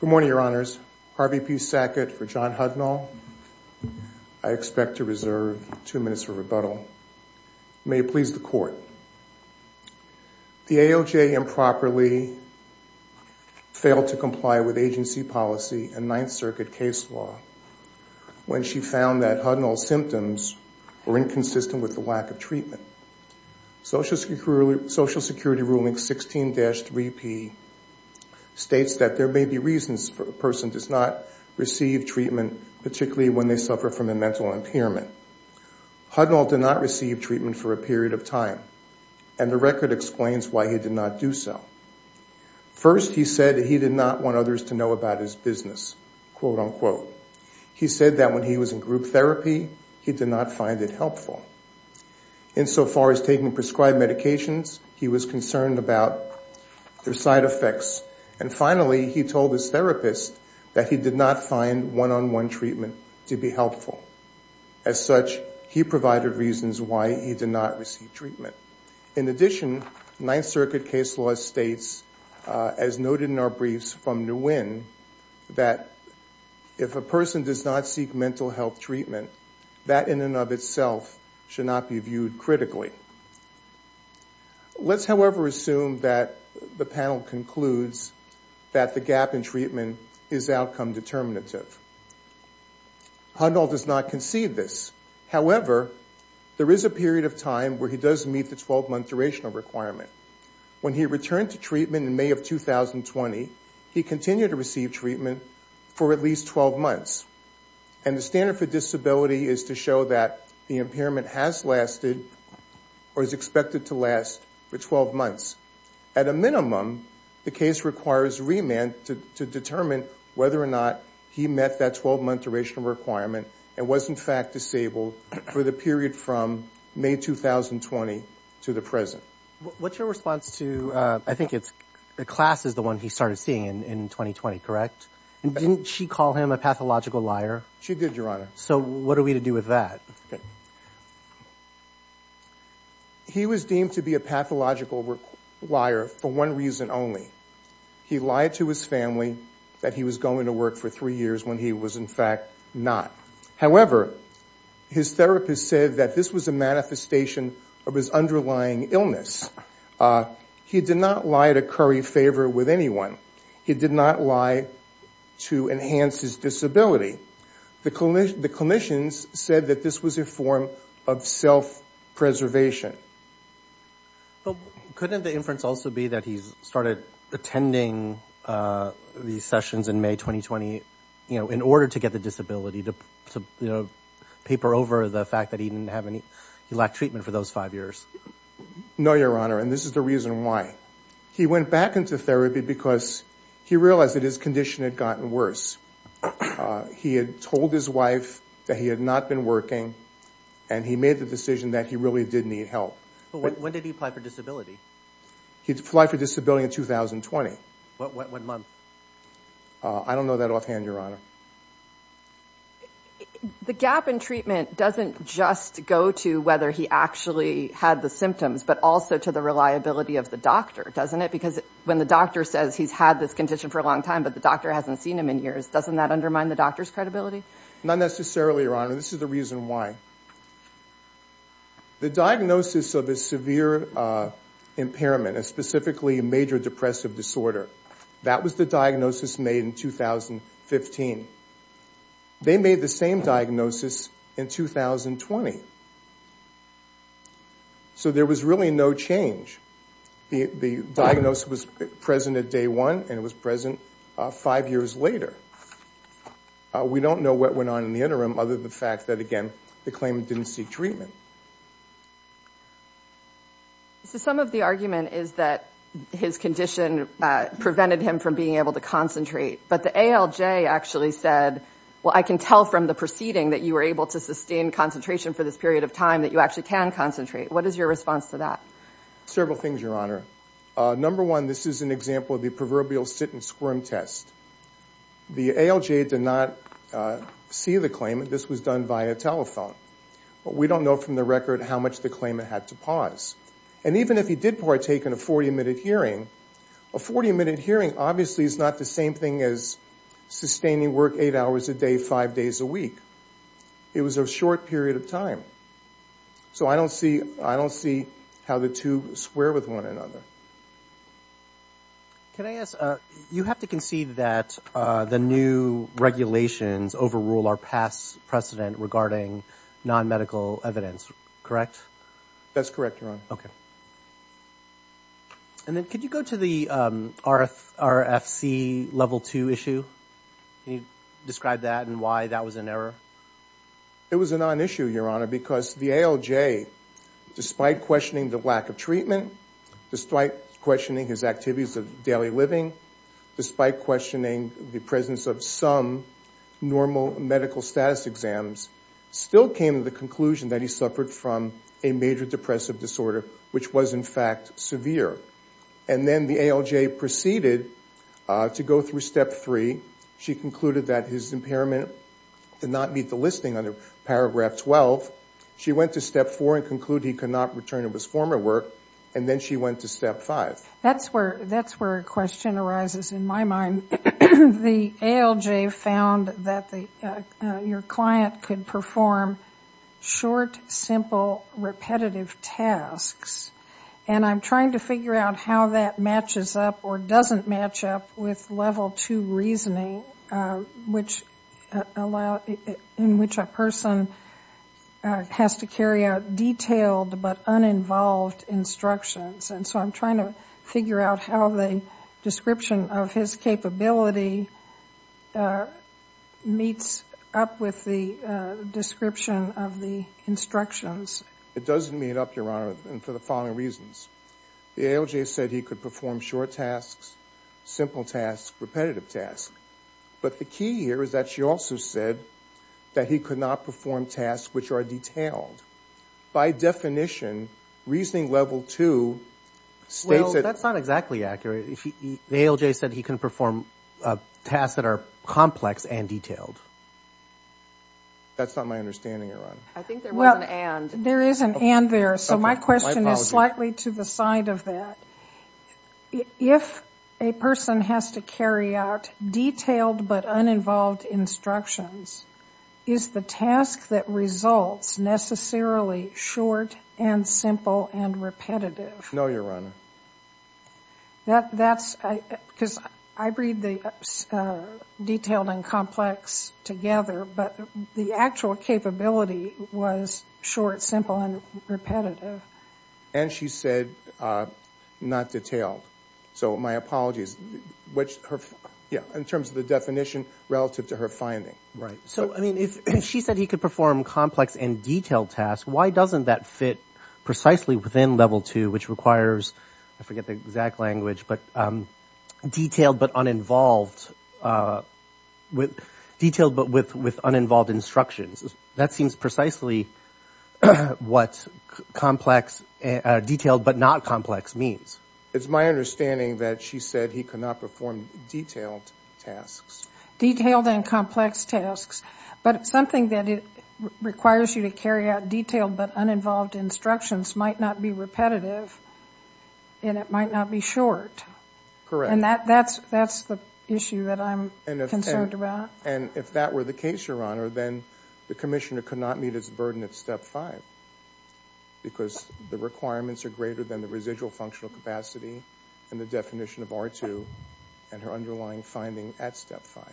Good morning, Your Honors. Harvey P. Sackett for John Hudnall. I expect to reserve two minutes for rebuttal. May it please the Court. The AOJ improperly failed to comply with agency policy and Ninth Circuit case law when she found that Hudnall's symptoms were inconsistent with the lack of treatment. Social Security Ruling 16-3P states that there may be reasons for a person does not receive treatment, particularly when they suffer from a mental impairment. Hudnall did not receive treatment for a period of time, and the record explains why he did not do so. First, he said he did not want others to know about his business, quote-unquote. He said that when he was in group therapy, he did not find it helpful. Insofar as taking prescribed medications, he was concerned about their side effects. And finally, he told his therapist that he did not find one-on-one treatment to be helpful. As such, he provided reasons why he did not receive treatment. In addition, Ninth Circuit case law states, as noted in our briefs from Nguyen, that if a person does not seek mental health treatment, that in and of itself should not be viewed critically. Let's, however, assume that the panel concludes that the gap in treatment is outcome determinative. Hudnall does not concede this. However, there is a period of time where he does meet the 12-month durational requirement. When he returned to treatment in May of 2020, he continued to receive treatment for at least 12 months. And the standard for disability is to show that the impairment has lasted or is expected to last for 12 months. At a minimum, the case requires remand to determine whether or not he met that 12-month durational requirement and was, in fact, disabled for the period from May 2020 to the present. What's your response to, I think it's, the class is the one he started seeing in 2020, correct? Didn't she call him a pathological liar? She did, Your Honor. So what are we to do with that? He was deemed to be a pathological liar for one reason only. He lied to his family that he was going to work for three years when he was, in fact, not. However, his therapist said that this was a manifestation of his underlying illness. He did not lie to curry favor with anyone. He did not lie to enhance his disability. The clinicians said that this was a form of self-preservation. Couldn't the inference also be that he started attending these sessions in May 2020, you know, he lacked treatment for those five years? No, Your Honor, and this is the reason why. He went back into therapy because he realized that his condition had gotten worse. He had told his wife that he had not been working, and he made the decision that he really did need help. But when did he apply for disability? He applied for disability in 2020. What month? I don't know that offhand, Your Honor. The gap in treatment doesn't just go to whether he actually had the symptoms, but also to the reliability of the doctor, doesn't it? Because when the doctor says he's had this condition for a long time, but the doctor hasn't seen him in years, doesn't that undermine the doctor's credibility? Not necessarily, Your Honor. This is the reason why. The diagnosis of his severe impairment, and specifically a major depressive disorder, that was the diagnosis made in 2015. They made the same diagnosis in 2020. So there was really no change. The diagnosis was present at day one, and it was present five years later. We don't know what went on in the interim, other than the fact that, again, the claimant didn't seek treatment. So some of the argument is that his condition prevented him from being able to concentrate, but the ALJ actually said, well, I can tell from the proceeding that you were able to sustain concentration for this period of time, that you actually can concentrate. What is your response to that? Several things, Your Honor. Number one, this is an example of the proverbial sit and squirm test. The ALJ did not see the claimant. This was done via telephone. But we don't know from the record how much the claimant had to pause. And even if he did partake in a 40-minute hearing, a 40-minute hearing obviously is not the same thing as sustaining work eight hours a day, five days a week. It was a short period of time. So I don't see how the two square with one another. Can I ask, you have to concede that the new regulations overrule our past precedent regarding non-medical evidence, correct? That's correct, Your Honor. Okay. And then could you go to the RFC Level 2 issue? Can you describe that and why that was an error? It was a non-issue, Your Honor, because the ALJ, despite questioning the lack of treatment, despite questioning his activities of daily living, despite questioning the presence of some normal medical status exams, still came to the conclusion that he suffered from a major depressive disorder, which was in fact severe. And then the ALJ proceeded to go through Step 3. She concluded that his impairment did not meet the listing under Paragraph 12. She went to Step 4 and concluded he could not return to his former work. And then she went to Step 5. That's where a question arises in my mind. The ALJ found that your client could perform short, simple, repetitive tasks. And I'm trying to figure out how that matches up or doesn't match up with Level 2 reasoning, in which a person has to carry out detailed but uninvolved instructions. And so I'm trying to figure out how the description of his capability meets up with the description of the instructions. It doesn't meet up, Your Honor, and for the same reasons. The ALJ said he could perform short tasks, simple tasks, repetitive tasks. But the key here is that she also said that he could not perform tasks which are detailed. By definition, reasoning Level 2 states that he can perform tasks that are complex and detailed. That's not my understanding, Your Honor. I think there was an and. There is an and there. So my question is slightly to the side of that. If a person has to carry out detailed but uninvolved instructions, is the task that results necessarily short and simple and repetitive? No, Your Honor. That's because I read the detailed and complex together, but the actual capability was short, simple, and repetitive. And she said not detailed. So my apologies. In terms of the definition relative to her finding. Right. So I mean, if she said he could perform complex and detailed tasks, why doesn't that precisely within Level 2, which requires, I forget the exact language, but detailed but uninvolved, detailed but with uninvolved instructions. That seems precisely what complex, detailed but not complex means. It's my understanding that she said he could not perform detailed tasks. Detailed and complex tasks. But it's something that requires you to carry out detailed but uninvolved instructions might not be repetitive and it might not be short. And that's the issue that I'm concerned about. And if that were the case, Your Honor, then the Commissioner could not meet its burden at Step 5 because the requirements are greater than the residual functional capacity and the definition of R2 and her underlying finding at Step 5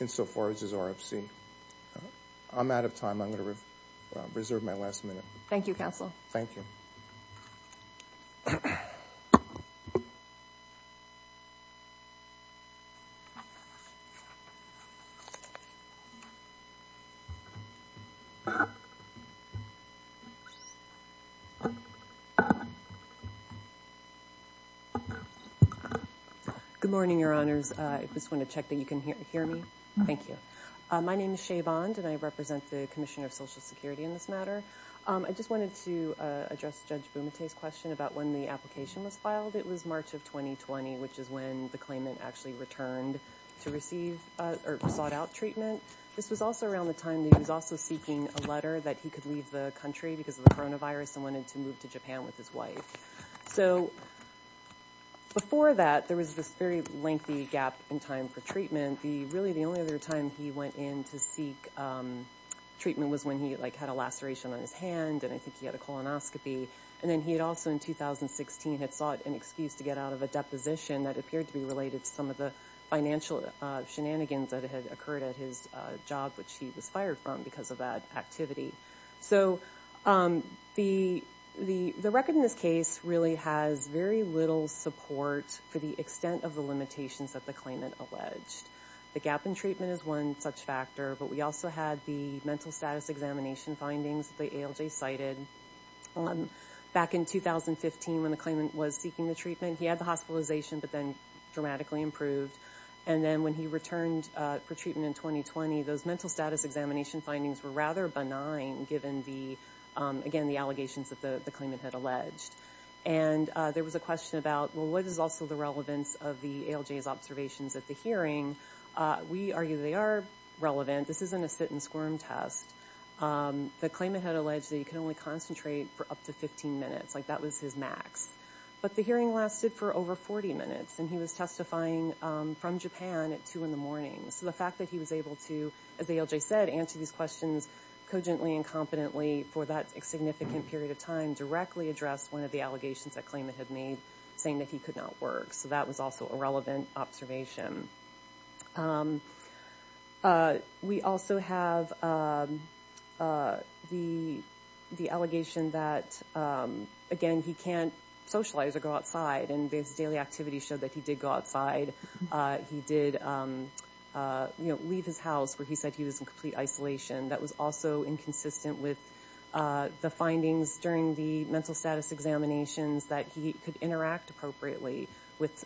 insofar as is RFC. I'm out of time. I'm going to reserve my last minute. Thank you, Counsel. Good morning, Your Honors. I just want to check that you can hear me. Thank you. My name is Shea Bond and I represent the Commissioner of Social Security in this matter. I just wanted to address Judge Bumate's question about when the application was filed. It was March of 2020, which is when the claimant actually returned to receive or sought out treatment. This was also around the time that he was also seeking a letter that he could leave the country because of the coronavirus and wanted to move to Japan with his wife. So before that, there was this very lengthy gap in time for treatment. The only other time he went in to seek treatment was when he had a laceration on his hand and I think he had a colonoscopy. And then he had also, in 2016, had sought an excuse to get out of a deposition that appeared to be related to some of the financial shenanigans that had occurred at his job, which he was fired from because of that activity. The record in this case really has very little support for the extent of the limitations that the claimant alleged. The gap in treatment is one such factor, but we also had the mental status examination findings that the ALJ cited back in 2015 when the claimant was seeking the treatment. He had the hospitalization, but then dramatically improved. And then when he returned for treatment in 2020, those mental status examination findings were rather benign given, again, the allegations that the claimant had alleged. And there was a question about, well, what is also the relevance of the ALJ's observations at the hearing? We argue they are relevant. This isn't a sit and squirm test. The claimant had alleged that he could only concentrate for up to 15 minutes. Like, that was his max. But the hearing lasted for over 40 minutes and he was testifying from Japan at 2 in the morning. So the fact that he was able to, as ALJ said, answer these questions cogently and competently for that significant period of time, directly addressed one of the allegations that claimant had made, saying that he could not work. So that was also a relevant observation. We also have the allegation that, again, he can't socialize or go outside. And his daily activities show that he did go outside. He did leave his house where he said he was in complete isolation. That was also inconsistent with the findings during the mental status examinations that he could interact appropriately with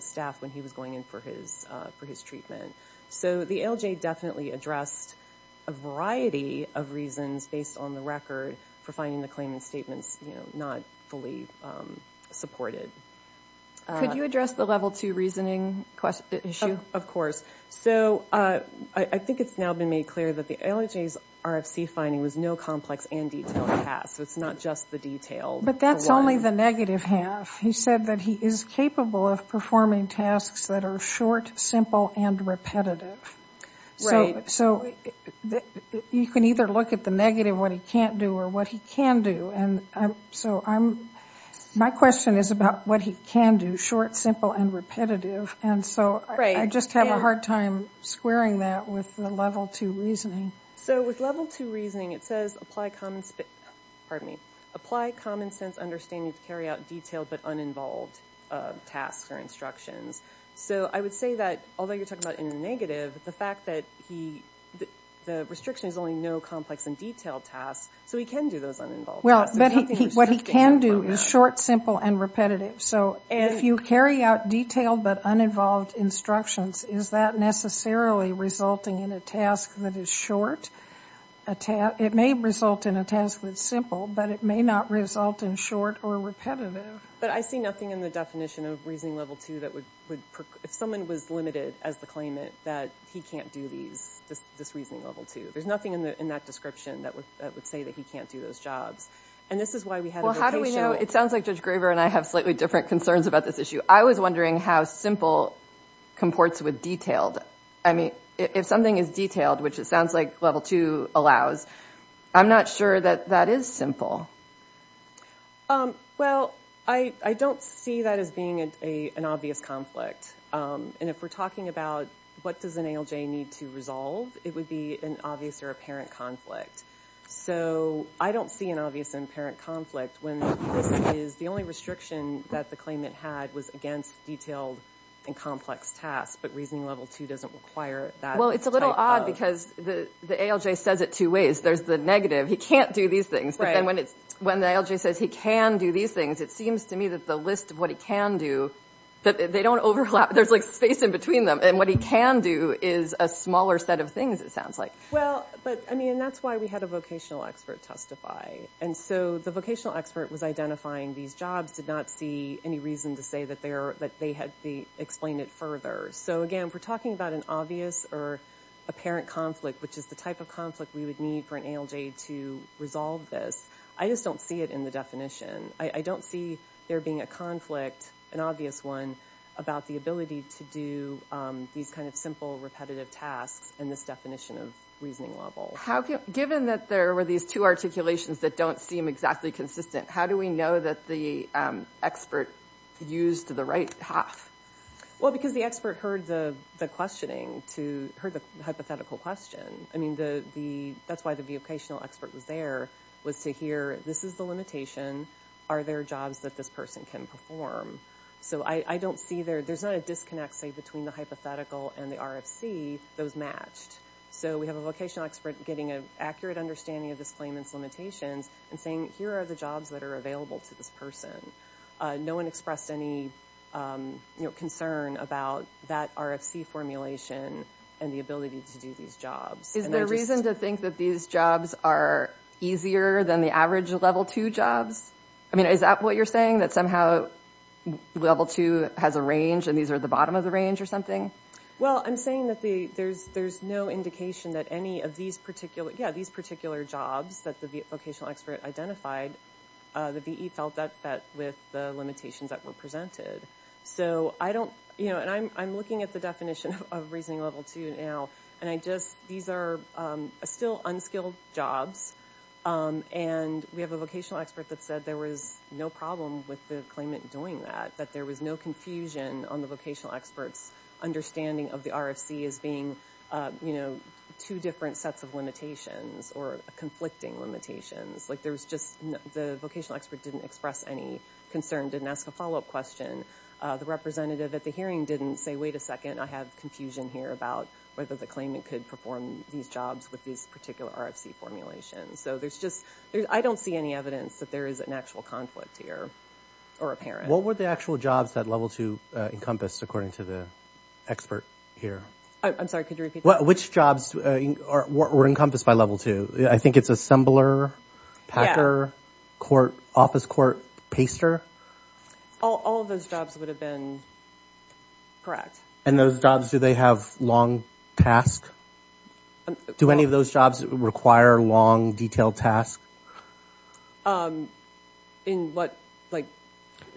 staff when he was going in for his treatment. So the ALJ definitely addressed a variety of reasons based on the record for finding the claimant's statements not fully supported. Could you address the level 2 reasoning issue? Of course. So I think it's now been made clear that the ALJ's RFC finding was no complex and detailed task. So it's not just the detailed. But that's only the negative half. He said that he is capable of performing tasks that are short, simple, and repetitive. So you can either look at the negative, what he can't do, or what he can do. My question is about what he can do, short, simple, and repetitive. And so I just have a hard time squaring that with the level 2 reasoning. So with level 2 reasoning, it says apply common sense understanding to carry out detailed but uninvolved tasks or instructions. So I would say that, although you're talking about in the negative, the fact that the restriction is only no complex and detailed tasks, so he can do those uninvolved tasks. But what he can do is short, simple, and repetitive. So if you carry out detailed but uninvolved instructions, is that necessarily resulting in a task that is short? It may result in a task that is simple, but it may not result in short or repetitive. But I see nothing in the definition of reasoning level 2 that would, if someone was limited as the claimant, that he can't do these, this reasoning level 2. There's nothing in that description that would say that he can't do those jobs. And this is why we had a vocation. It sounds like Judge Graver and I have slightly different concerns about this issue. I was wondering how simple comports with detailed. I mean, if something is detailed, which it sounds like level 2 allows, I'm not sure that that is simple. Well, I don't see that as being an obvious conflict. And if we're talking about what does an ALJ need to resolve, it would be an obvious or apparent conflict. So I don't see an obvious and apparent conflict when this is the only restriction that the claimant had was against detailed and complex tasks, but reasoning level 2 doesn't require that type of... Well, it's a little odd because the ALJ says it two ways. There's the negative, he can't do these things. But then when the ALJ says he can do these things, it seems to me that the list of what he can do, they don't overlap, there's, like, space in between them. And what he can do is a smaller set of things, it sounds like. Well, but, I mean, that's why we had a vocational expert testify. And so the vocational expert was identifying these jobs, did not see any reason to say that they had to explain it further. So, again, if we're talking about an obvious or apparent conflict, which is the type of conflict we would need for an ALJ to resolve this, I just don't see it in the definition. I don't see there being a conflict, an obvious one, about the ability to do these kind of simple, repetitive tasks in this definition of reasoning level. Given that there were these two articulations that don't seem exactly consistent, how do we know that the expert used the right half? Well, because the expert heard the questioning, heard the hypothetical question. I mean, that's why the vocational expert was there, was to hear, this is the limitation, are there jobs that this person can perform? So I don't see there... There's not a disconnect, say, between the hypothetical and the RFC, but I don't see those matched. So we have a vocational expert getting an accurate understanding of this claim and its limitations and saying, here are the jobs that are available to this person. No-one expressed any concern about that RFC formulation and the ability to do these jobs. Is there reason to think that these jobs are easier than the average level 2 jobs? I mean, is that what you're saying, that somehow level 2 has a range and these are at the bottom of the range or something? Well, I'm saying that there's no indication that any of these particular... Yeah, these particular jobs that the vocational expert identified, the VE felt that fit with the limitations that were presented. So I don't... And I'm looking at the definition of reasoning level 2 now, and I just... These are still unskilled jobs, and we have a vocational expert that said there was no problem with the claimant doing that, that there was no confusion on the vocational expert's understanding of the RFC as being, you know, two different sets of limitations or conflicting limitations. Like, there was just... The vocational expert didn't express any concern, didn't ask a follow-up question. The representative at the hearing didn't say, wait a second, I have confusion here about whether the claimant could perform these jobs with this particular RFC formulation. So there's just... I don't see any evidence that there is an actual conflict here, or apparent. What were the actual jobs that level 2 encompassed, according to the expert here? I'm sorry, could you repeat that? Which jobs were encompassed by level 2? I think it's assembler, packer, court, office court, paster. All of those jobs would have been correct. And those jobs, do they have long tasks? Do any of those jobs require long, detailed tasks? Um, in what, like,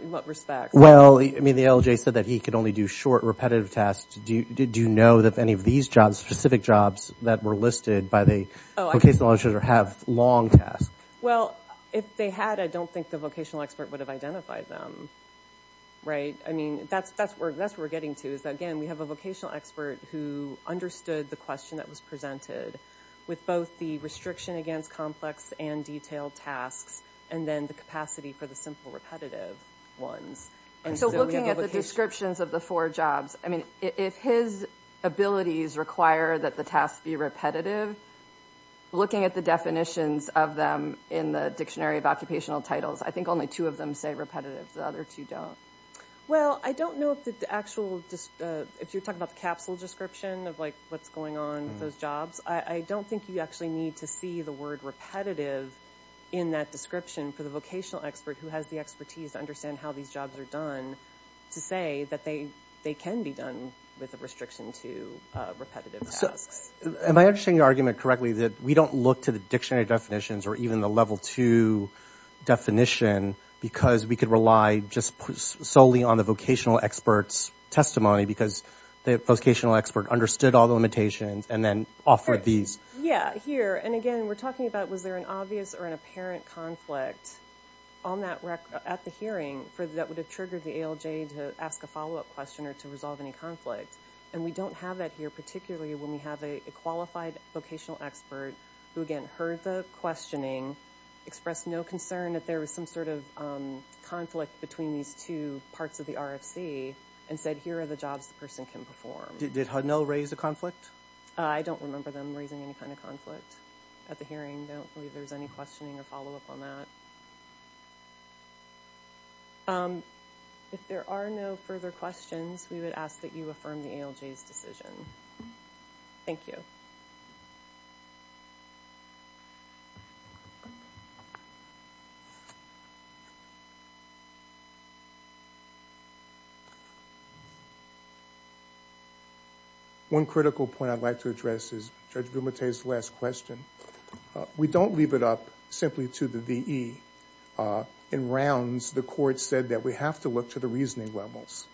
in what respect? Well, I mean, the LJ said that he could only do short, repetitive tasks. Do you know that any of these jobs, specific jobs, that were listed by the vocational auditor have long tasks? Well, if they had, I don't think the vocational expert would have identified them, right? I mean, that's where we're getting to, is that, again, we have a vocational expert who understood the question that was presented with both the restriction against complex and detailed tasks and then the capacity for the simple, repetitive ones. So looking at the descriptions of the four jobs, I mean, if his abilities require that the tasks be repetitive, looking at the definitions of them in the Dictionary of Occupational Titles, I think only two of them say repetitive. The other two don't. Well, I don't know if the actual... If you're talking about the capsule description of, like, what's going on with those jobs, I don't think you actually need to see the word repetitive in that description for the vocational expert, who has the expertise to understand how these jobs are done, to say that they can be done with a restriction to repetitive tasks. Am I understanding your argument correctly that we don't look to the dictionary definitions or even the Level 2 definition because we could rely just solely on the vocational expert's testimony because the vocational expert understood all the limitations and then offered these... Yeah, here, and again, we're talking about was there an obvious or an apparent conflict on that rec... at the hearing that would have triggered the ALJ to ask a follow-up question or to resolve any conflict? And we don't have that here, particularly when we have a qualified vocational expert who, again, heard the questioning, expressed no concern that there was some sort of conflict between these two parts of the RFC and said, here are the jobs the person can perform. Did Hanel raise a conflict? I don't remember them raising any kind of conflict at the hearing. I don't believe there was any questioning or follow-up on that. Um, if there are no further questions, we would ask that you affirm the ALJ's decision. Thank you. One critical point I'd like to address is Judge Vilmete's last question. Uh, we don't leave it up simply to the V.E. Uh, in rounds, the court said that we have to look to the reasoning levels.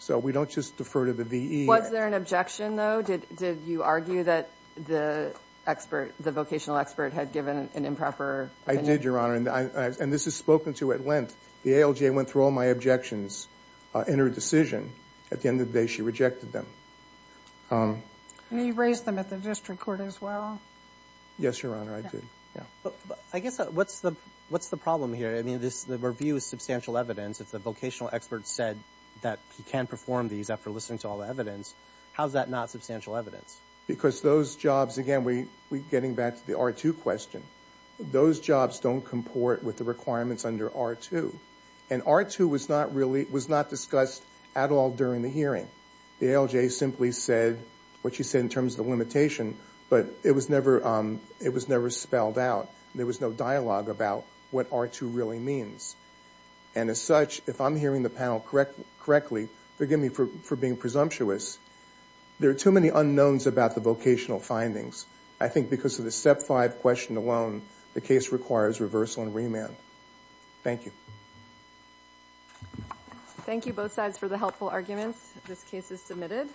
So we don't just defer to the V.E. Was there an objection, though? Did-did you argue that the expert, the vocational expert, had given an improper opinion? I did, Your Honor, and I... and this is spoken to at length. The ALJ went through all my objections in her decision. At the end of the day, she rejected them. Um... And you raised them at the district court as well? Yes, Your Honor, I did. I guess what's the... what's the problem here? I mean, this... the review is substantial evidence. If the vocational expert said that he can perform these after listening to all the evidence, how's that not substantial evidence? Because those jobs... again, we... we're getting back to the R2 question. Those jobs don't comport with the requirements under R2. And R2 was not really... was not discussed at all during the hearing. The ALJ simply said what she said in terms of the limitation, but it was never, um... it was never spelled out. There was no dialogue about what R2 really means. And as such, if I'm hearing the panel correct... correctly, forgive me for... for being presumptuous, there are too many unknowns about the vocational findings. I think because of the Step 5 question alone, the case requires reversal and remand. Thank you. Thank you, both sides, for the helpful arguments. This case is submitted.